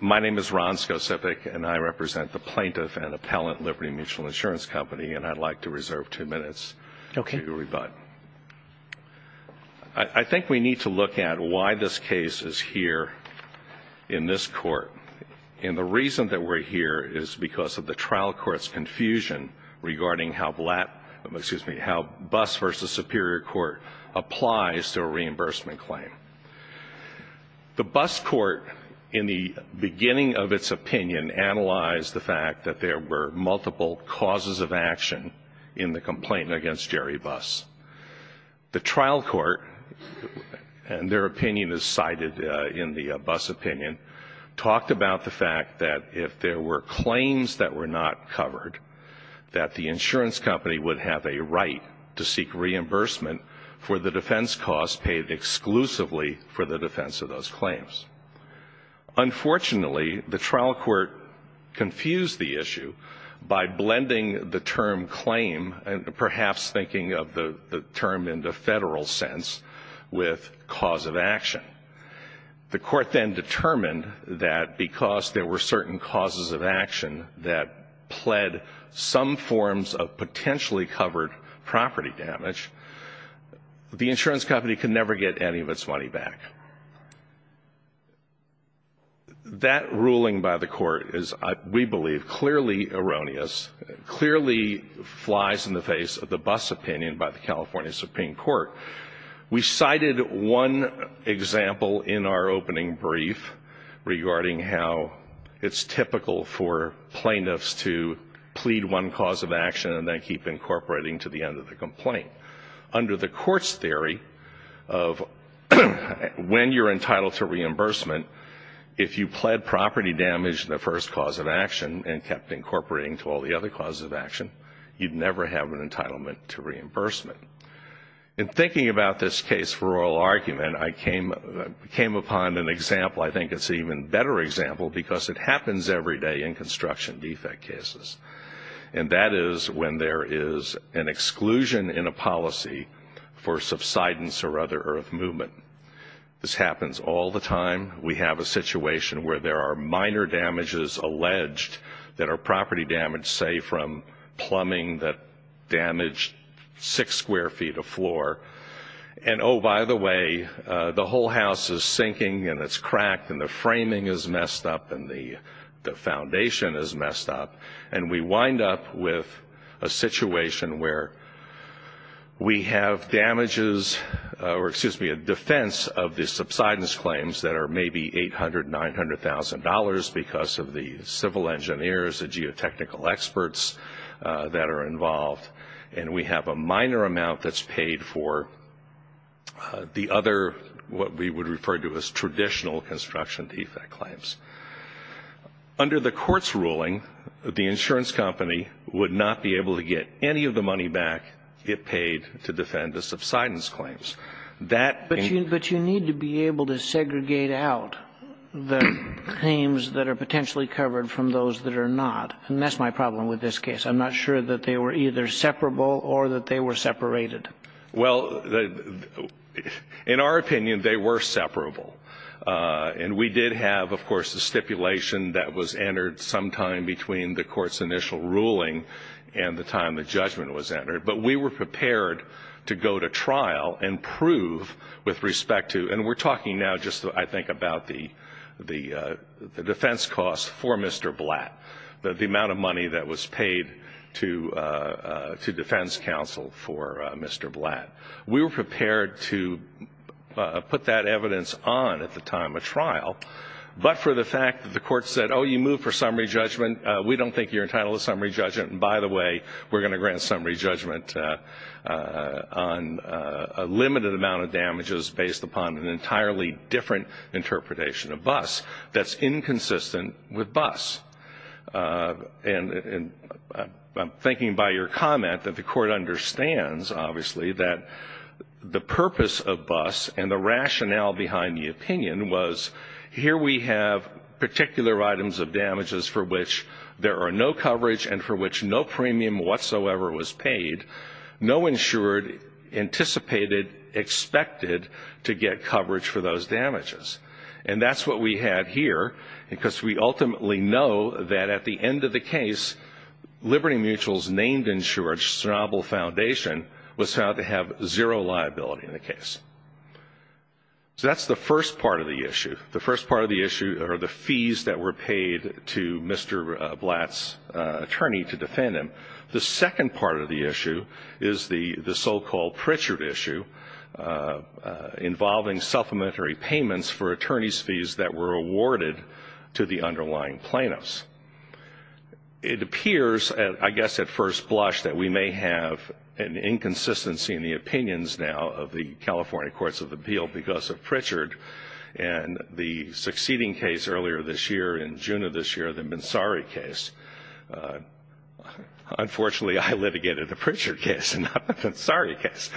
My name is Ron Skocipic, and I represent the Plaintiff and Appellant Liberty Mutual Insurance Company, and I'd like to reserve two minutes to rebut. I think we need to look at why this case is here in this court, and the reason that we're here is because of the trial court's confusion regarding how Blatt – excuse me – how Buss v. Superior Court applies to a reimbursement claim. The Buss court, in the beginning of its opinion, analyzed the fact that there were multiple causes of action in the complaint against Jerry Buss. The trial court – and their opinion is cited in the Buss opinion – talked about the fact that if there were claims that were not covered, that the insurance company would have a right to seek reimbursement for the defense costs paid exclusively for the defense of those claims. Unfortunately, the trial court confused the issue by blending the term claim, and perhaps thinking of the term in the federal sense, with cause of action. The court then determined that because there were certain causes of action that pled some forms of potentially covered property damage, the insurance company could never get any of its money back. That ruling by the court is, we believe, clearly erroneous, clearly flies in the face of the Buss opinion by the California Supreme Court. We cited one example in our opening brief regarding how it's typical for plaintiffs to plead one cause of action and then keep incorporating to the end of the complaint. Under the court's theory of when you're entitled to reimbursement, if you pled property damage in the first cause of action and kept incorporating to all the other causes of action, you'd never have an entitlement to reimbursement. In thinking about this case for oral argument, I came upon an example. I think it's an even better example because it happens every day in construction defect cases, and that is when there is an exclusion in a policy for subsidence or other earth movement. This happens all the time. We have a situation where there are minor damages alleged that are property damage, say from plumbing that damaged six square feet of floor. And, oh, by the way, the whole house is sinking and it's cracked and the framing is messed up and the foundation is messed up, and we wind up with a situation where we have damages or, excuse me, a defense of the subsidence claims that are maybe $800,000, $900,000 because of the civil engineers, the geotechnical experts that are involved, and we have a minor amount that's paid for the other what we would refer to as traditional construction defect claims. Under the court's ruling, the insurance company would not be able to get any of the money back it paid to defend the subsidence claims. But you need to be able to segregate out the claims that are potentially covered from those that are not, and that's my problem with this case. I'm not sure that they were either separable or that they were separated. Well, in our opinion, they were separable, and we did have, of course, the stipulation that was entered sometime between the court's initial ruling and the time the judgment was entered, but we were prepared to go to trial and prove with respect to, and we're talking now just, I think, about the defense costs for Mr. Blatt, the amount of money that was paid to defense counsel for Mr. Blatt. We were prepared to put that evidence on at the time of trial, but for the fact that the court said, oh, you move for summary judgment, we don't think you're entitled to summary judgment, and by the way, we're going to grant summary judgment on a limited amount of damages based upon an entirely different interpretation of BUS that's inconsistent with BUS. And I'm thinking by your comment that the court understands, obviously, that the purpose of BUS and the rationale behind the opinion was, here we have particular items of damages for which there are no coverage and for which no premium whatsoever was paid. No insured anticipated expected to get coverage for those damages, and that's what we have here because we ultimately know that at the end of the case, Liberty Mutual's named insurer, Chernobyl Foundation, was found to have zero liability in the case. So that's the first part of the issue. The first part of the issue are the fees that were paid to Mr. Blatt's attorney to defend him. The second part of the issue is the so-called Pritchard issue involving supplementary payments for attorney's fees that were awarded to the underlying plaintiffs. It appears, I guess at first blush, that we may have an inconsistency in the opinions now of the California Courts of Appeal because of Pritchard and the succeeding case earlier this year, in June of this year, the Mansari case. Unfortunately, I litigated the Pritchard case and not the Mansari case.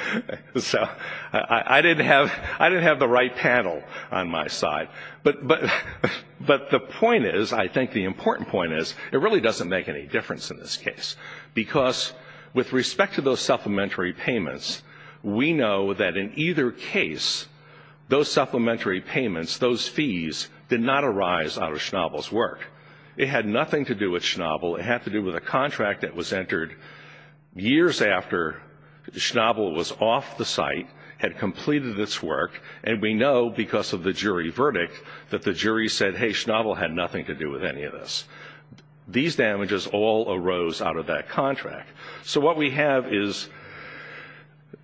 So I didn't have the right panel on my side. But the point is, I think the important point is, it really doesn't make any difference in this case because with respect to those supplementary payments, we know that in either case, those supplementary payments, those fees, did not arise out of Schnabel's work. It had nothing to do with Schnabel. It had to do with a contract that was entered years after Schnabel was off the site, had completed its work, and we know, because of the jury verdict, that the jury said, hey, Schnabel had nothing to do with any of this. These damages all arose out of that contract. So what we have is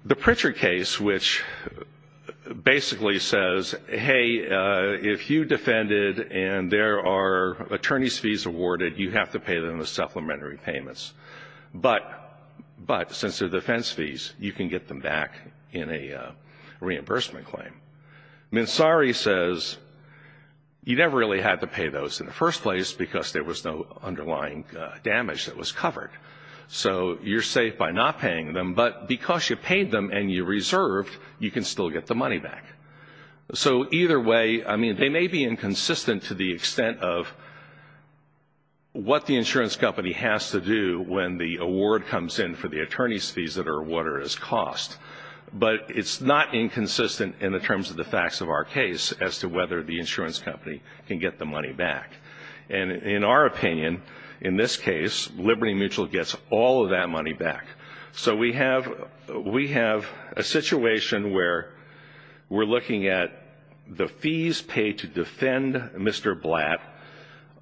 the Pritchard case, which basically says, hey, if you defended and there are attorney's fees awarded, you have to pay them the supplementary payments. But since they're defense fees, you can get them back in a reimbursement claim. Mansari says you never really had to pay those in the first place because there was no underlying damage that was covered. So you're safe by not paying them, but because you paid them and you reserved, you can still get the money back. So either way, I mean, they may be inconsistent to the extent of what the insurance company has to do when the award comes in for the attorney's fees that are awarded as cost, but it's not inconsistent in the terms of the facts of our case as to whether the insurance company can get the money back. And in our opinion, in this case, Liberty Mutual gets all of that money back. So we have a situation where we're looking at the fees paid to defend Mr. Blatt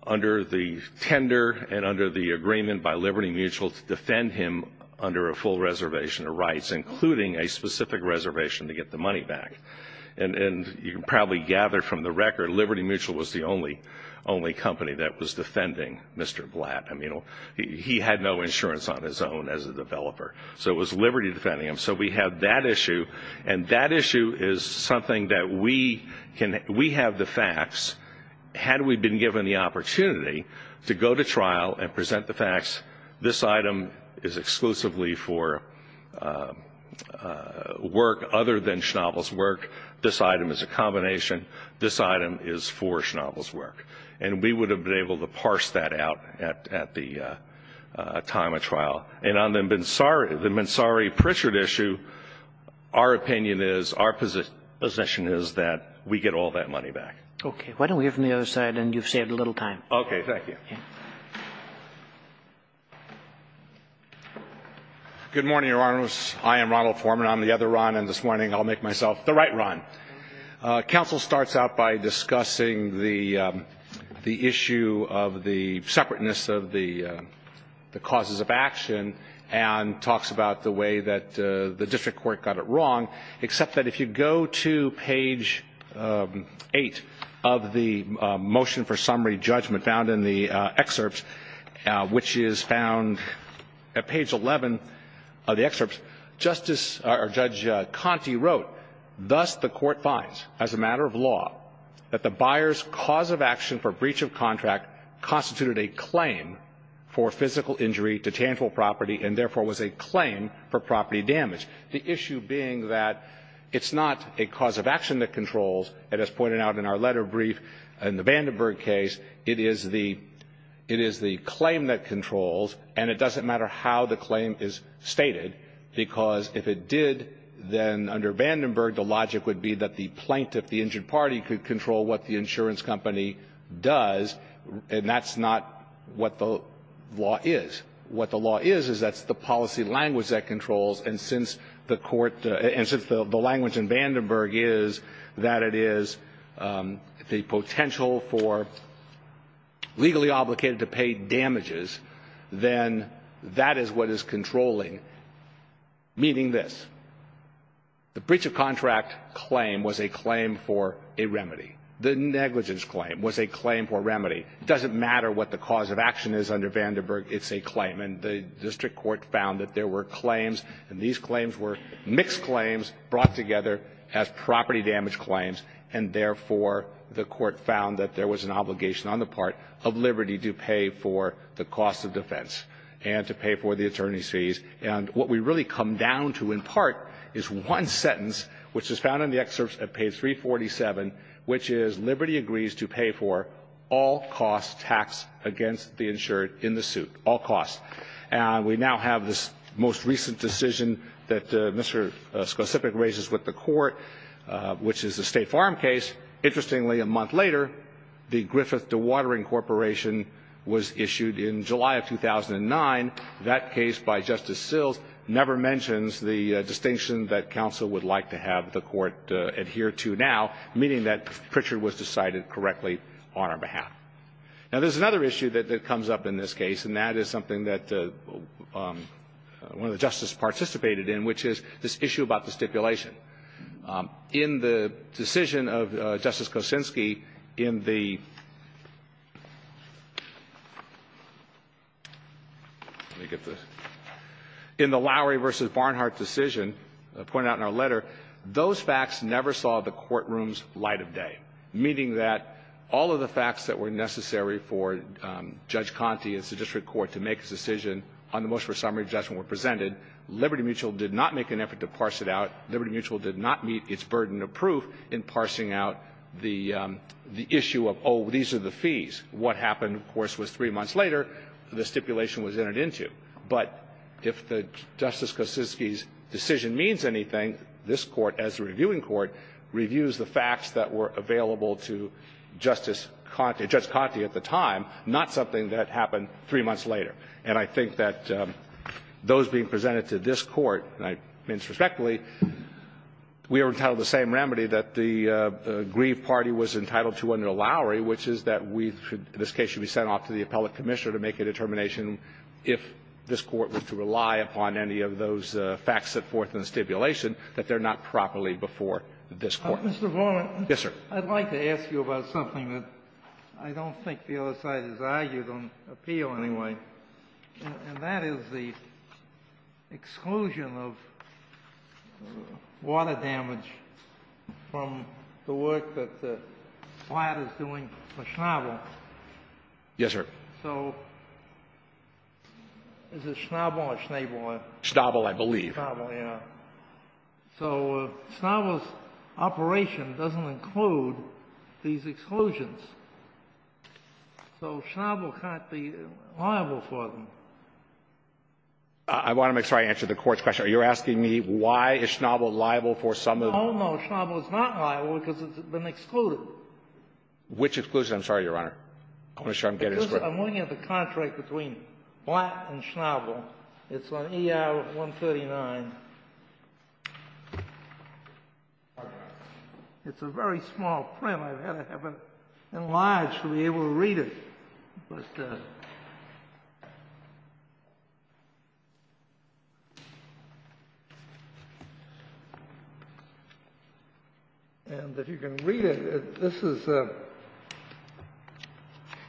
under the tender and under the agreement by Liberty Mutual to defend him under a full reservation of rights, including a specific reservation to get the money back. And you can probably gather from the record Liberty Mutual was the only company that was defending Mr. Blatt. I mean, he had no insurance on his own as a developer, so it was Liberty defending him. So we have that issue, and that issue is something that we have the facts. Had we been given the opportunity to go to trial and present the facts, this item is exclusively for work other than Schnabel's work. This item is a combination. This item is for Schnabel's work. And we would have been able to parse that out at the time of trial. And on the Mansari-Pritchard issue, our opinion is, our position is that we get all that money back. Okay. Why don't we hear from the other side, and you've saved a little time. Okay. Thank you. Good morning, Your Honor. I am Ronald Foreman. I'm the other Ron, and this morning I'll make myself the right Ron. Counsel starts out by discussing the issue of the separateness of the causes of action and talks about the way that the district court got it wrong, except that if you go to page 8 of the motion for summary judgment found in the excerpts, which is found at page 11 of the excerpts, Justice or Judge Conte wrote, thus the court finds as a matter of law that the buyer's cause of action for breach of contract constituted a claim for physical injury to tangible property and therefore was a claim for property damage. The issue being that it's not a cause of action that controls, and as pointed out in our letter brief in the Vandenberg case, it is the claim that controls, and it doesn't matter how the claim is stated, because if it did, then under Vandenberg, the logic would be that the plaintiff, the injured party, could control what the insurance company does, and that's not what the law is. What the law is, is that's the policy language that controls, and since the language in Vandenberg is that it is the potential for legally obligated to pay damages, then that is what is controlling, meaning this. The breach of contract claim was a claim for a remedy. The negligence claim was a claim for remedy. It doesn't matter what the cause of action is under Vandenberg. It's a claim. And the district court found that there were claims, and these claims were mixed claims brought together as property damage claims, and therefore the court found that there was an obligation on the part of Liberty to pay for the cost of defense and to pay for the attorney's fees. And what we really come down to in part is one sentence, which is found in the excerpts at page 347, which is Liberty agrees to pay for all costs taxed against the insured in the suit, all costs. And we now have this most recent decision that Mr. Skocipic raises with the court, which is the State Farm case. Interestingly, a month later, the Griffith Dewatering Corporation was issued in July of 2009. That case by Justice Sills never mentions the distinction that counsel would like to have the court adhere to now, meaning that Pritchard was decided correctly on our behalf. Now, there's another issue that comes up in this case, and that is something that one of the justices participated in, which is this issue about the stipulation. In the decision of Justice Kosinski in the Lowry v. Barnhart decision pointed out in our letter, those facts never saw the courtroom's light of day, meaning that all of the facts that were necessary for Judge Conte and the district court to make a decision on the motion for summary judgment were presented. Liberty Mutual did not make an effort to parse it out. Liberty Mutual did not meet its burden of proof in parsing out the issue of, oh, these are the fees. What happened, of course, was three months later, the stipulation was entered into. But if Justice Kosinski's decision means anything, this Court, as a reviewing court, reviews the facts that were available to Justice Conte, Judge Conte at the time, not something that happened three months later. And I think that those being presented to this Court, and I mean this respectfully, we are entitled to the same remedy that the Grieve Party was entitled to under Lowry, which is that we should, in this case, should be sent off to the appellate commissioner to make a determination if this Court were to rely upon any of those facts set forth in the stipulation, that they're not properly before this Court. Yes, sir. I'd like to ask you about something that I don't think the other side has argued on appeal anyway, and that is the exclusion of water damage from the work that the flat is doing for Schnabel. Yes, sir. So is it Schnabel or Schnebel? Schnabel, I believe. Schnabel, yes. All right. So Schnabel's operation doesn't include these exclusions. So Schnabel can't be liable for them. I want to make sure I answer the Court's question. Are you asking me why is Schnabel liable for some of them? No, no. Schnabel is not liable because it's been excluded. Which exclusion? I'm sorry, Your Honor. I want to make sure I'm getting this correct. Because I'm looking at the contract between Flat and Schnabel. It's on ER 139. It's a very small print. I've had to have it enlarged to be able to read it. And if you can read it, this is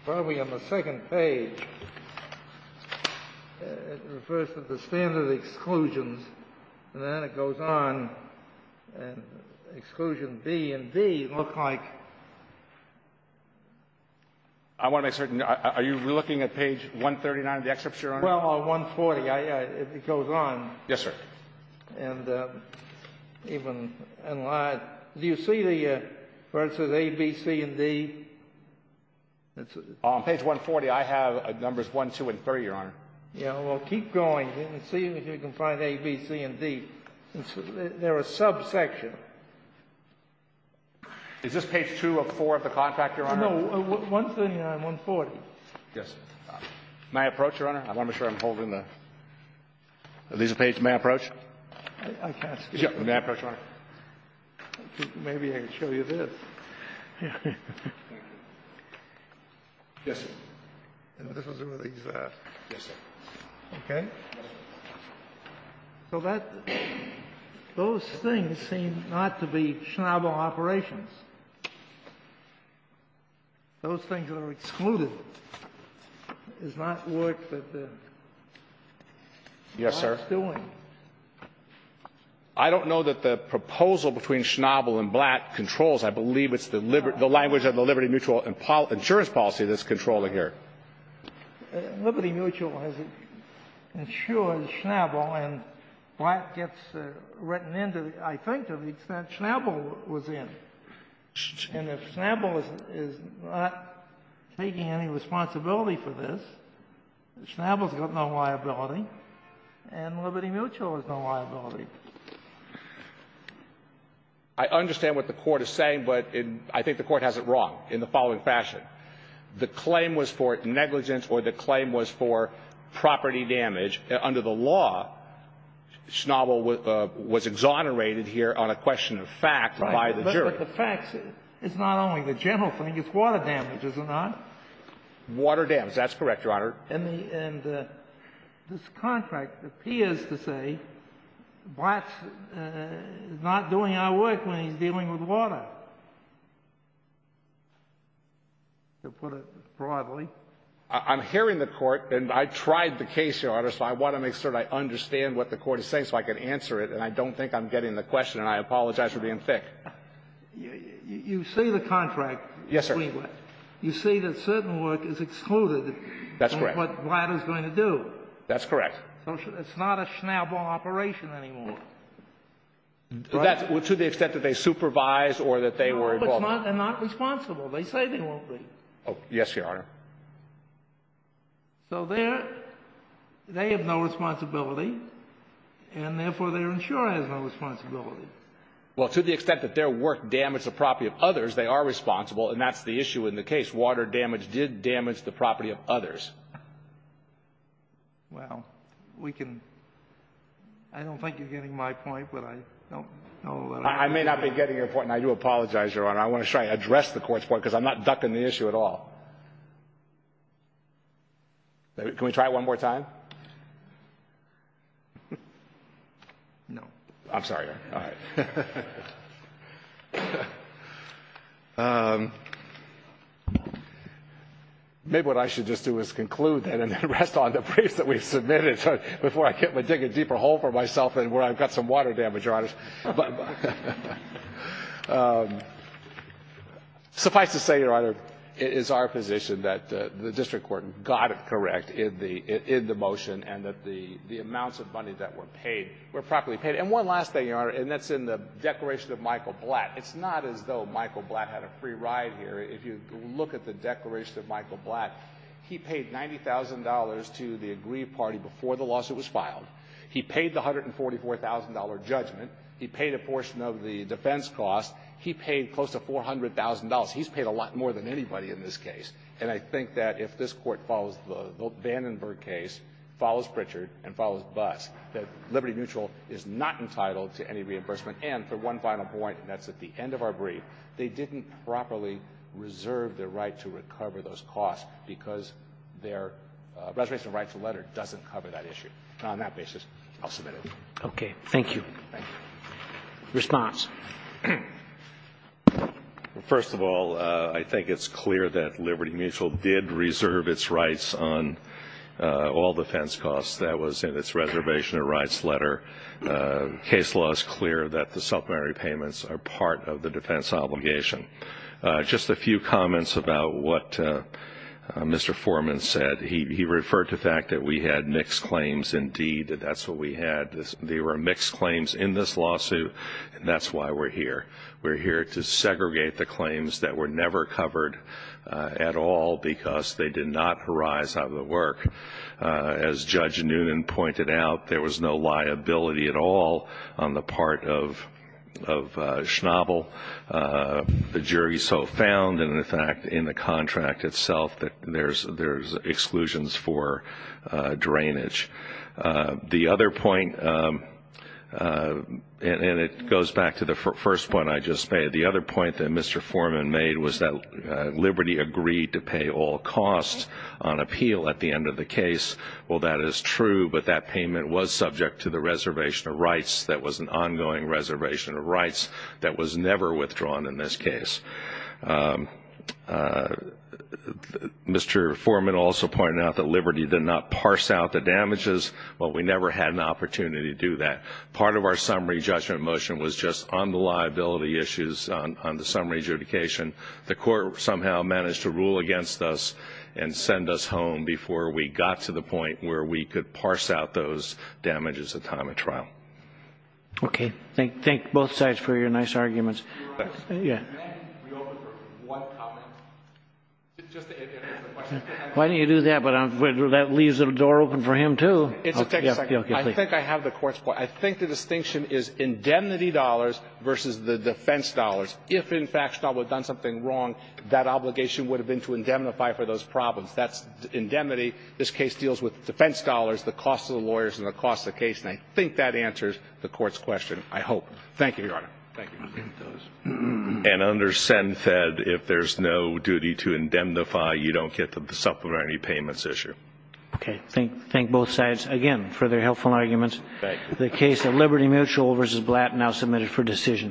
probably on the second page. It refers to the standard exclusions. And then it goes on. Exclusion B and D look like. I want to make certain. Are you looking at page 139 of the excerpt, Your Honor? Well, 140. It goes on. Yes, sir. And even enlarged. Do you see the verses A, B, C, and D? On page 140, I have numbers 1, 2, and 30, Your Honor. Yeah. Well, keep going. See if you can find A, B, C, and D. They're a subsection. Is this page 2 of 4 of the contract, Your Honor? No. 139, 140. Yes, sir. May I approach, Your Honor? I want to make sure I'm holding the. Is this page may I approach? I can't see it. May I approach, Your Honor? Maybe I can show you this. Yes, sir. And this was released last. Yes, sir. Okay. So that those things seem not to be Schnabel operations. Those things that are excluded is not what the. Yes, sir. What it's doing. I don't know that the proposal between Schnabel and Blatt controls, I believe it's the language of the Liberty Mutual insurance policy that's controlling here. Liberty Mutual has insured Schnabel, and Blatt gets written into, I think, to the extent Schnabel was in. And if Schnabel is not taking any responsibility for this, Schnabel's got no liability, and Liberty Mutual has no liability. I understand what the Court is saying, but I think the Court has it wrong in the following fashion. The claim was for negligence or the claim was for property damage. Under the law, Schnabel was exonerated here on a question of facts by the jury. Right. But the facts is not only the general thing. It's water damage, is it not? Water damage. That's correct, Your Honor. And this contract appears to say Blatt's not doing our work when he's dealing with water, to put it broadly. I'm hearing the Court, and I tried the case, Your Honor, so I want to make sure I understand what the Court is saying so I can answer it, and I don't think I'm getting the question, and I apologize for being thick. You see the contract. Yes, sir. You see that certain work is excluded. That's correct. What Blatt is going to do. That's correct. So it's not a Schnabel operation anymore. That's to the extent that they supervise or that they were involved. No, but they're not responsible. They say they won't be. Yes, Your Honor. So they have no responsibility, and therefore their insurer has no responsibility. Well, to the extent that their work damaged the property of others, they are responsible, and that's the issue in the case. Water damage did damage the property of others. Well, we can – I don't think you're getting my point, but I don't know what I'm getting. I may not be getting your point, and I do apologize, Your Honor. I want to try to address the Court's point because I'm not ducking the issue at all. Can we try it one more time? No. I'm sorry. All right. Maybe what I should just do is conclude that and then rest on the briefs that we've submitted before I dig a deeper hole for myself and where I've got some water damage, Your Honor. Suffice to say, Your Honor, it is our position that the district court got it correct in the motion and that the amounts of money that were paid were properly paid. And one last thing, Your Honor, and that's in the declaration of Michael Blatt. It's not as though Michael Blatt had a free ride here. If you look at the declaration of Michael Blatt, he paid $90,000 to the aggrieved party before the lawsuit was filed. He paid the $144,000 judgment. He paid a portion of the defense cost. He paid close to $400,000. He's paid a lot more than anybody in this case. And I think that if this Court follows the Vandenberg case, follows Pritchard, and follows Buss, that Liberty Mutual is not entitled to any reimbursement. And for one final point, and that's at the end of our brief, they didn't properly reserve their right to recover those costs because their reservation rights letter doesn't cover that issue. Now, on that basis, I'll submit it. Roberts. Okay. Thank you. Thank you. Response. Well, first of all, I think it's clear that Liberty Mutual did reserve its rights on all defense costs. That was in its reservation rights letter. Case law is clear that the supplementary payments are part of the defense obligation. Just a few comments about what Mr. Foreman said. He referred to the fact that we had mixed claims. Indeed, that's what we had. There were mixed claims in this lawsuit, and that's why we're here. We're here to segregate the claims that were never covered at all because they did not arise out of the work. As Judge Noonan pointed out, there was no liability at all on the part of Schnabel. The jury so found, in effect, in the contract itself that there's exclusions for drainage. The other point, and it goes back to the first point I just made, the other point that Mr. Foreman made was that Liberty agreed to pay all costs on appeal at the end of the case. Well, that is true, but that payment was subject to the reservation of rights. That was an ongoing reservation of rights that was never withdrawn in this case. Mr. Foreman also pointed out that Liberty did not parse out the damages, but we never had an opportunity to do that. Part of our summary judgment motion was just on the liability issues on the summary adjudication. The court somehow managed to rule against us and send us home before we got to the point where we could parse out those damages at time of trial. Okay. Thank both sides for your nice arguments. Your Honor, can I reopen for one comment? Just to answer the question. Why don't you do that, but that leaves the door open for him, too. I'll take a second. I think I have the Court's point. I think the distinction is indemnity dollars versus the defense dollars. If, in fact, Staub would have done something wrong, that obligation would have been to indemnify for those problems. That's indemnity. This case deals with defense dollars, the cost of the lawyers, and the cost of the case. And I think that answers the Court's question, I hope. Thank you, Your Honor. Thank you. And under SenFed, if there's no duty to indemnify, you don't get the supplementary payments issue. Okay. Thank both sides again for their helpful arguments. Thank you. The case of Liberty Mutual v. Blatt now submitted for decision.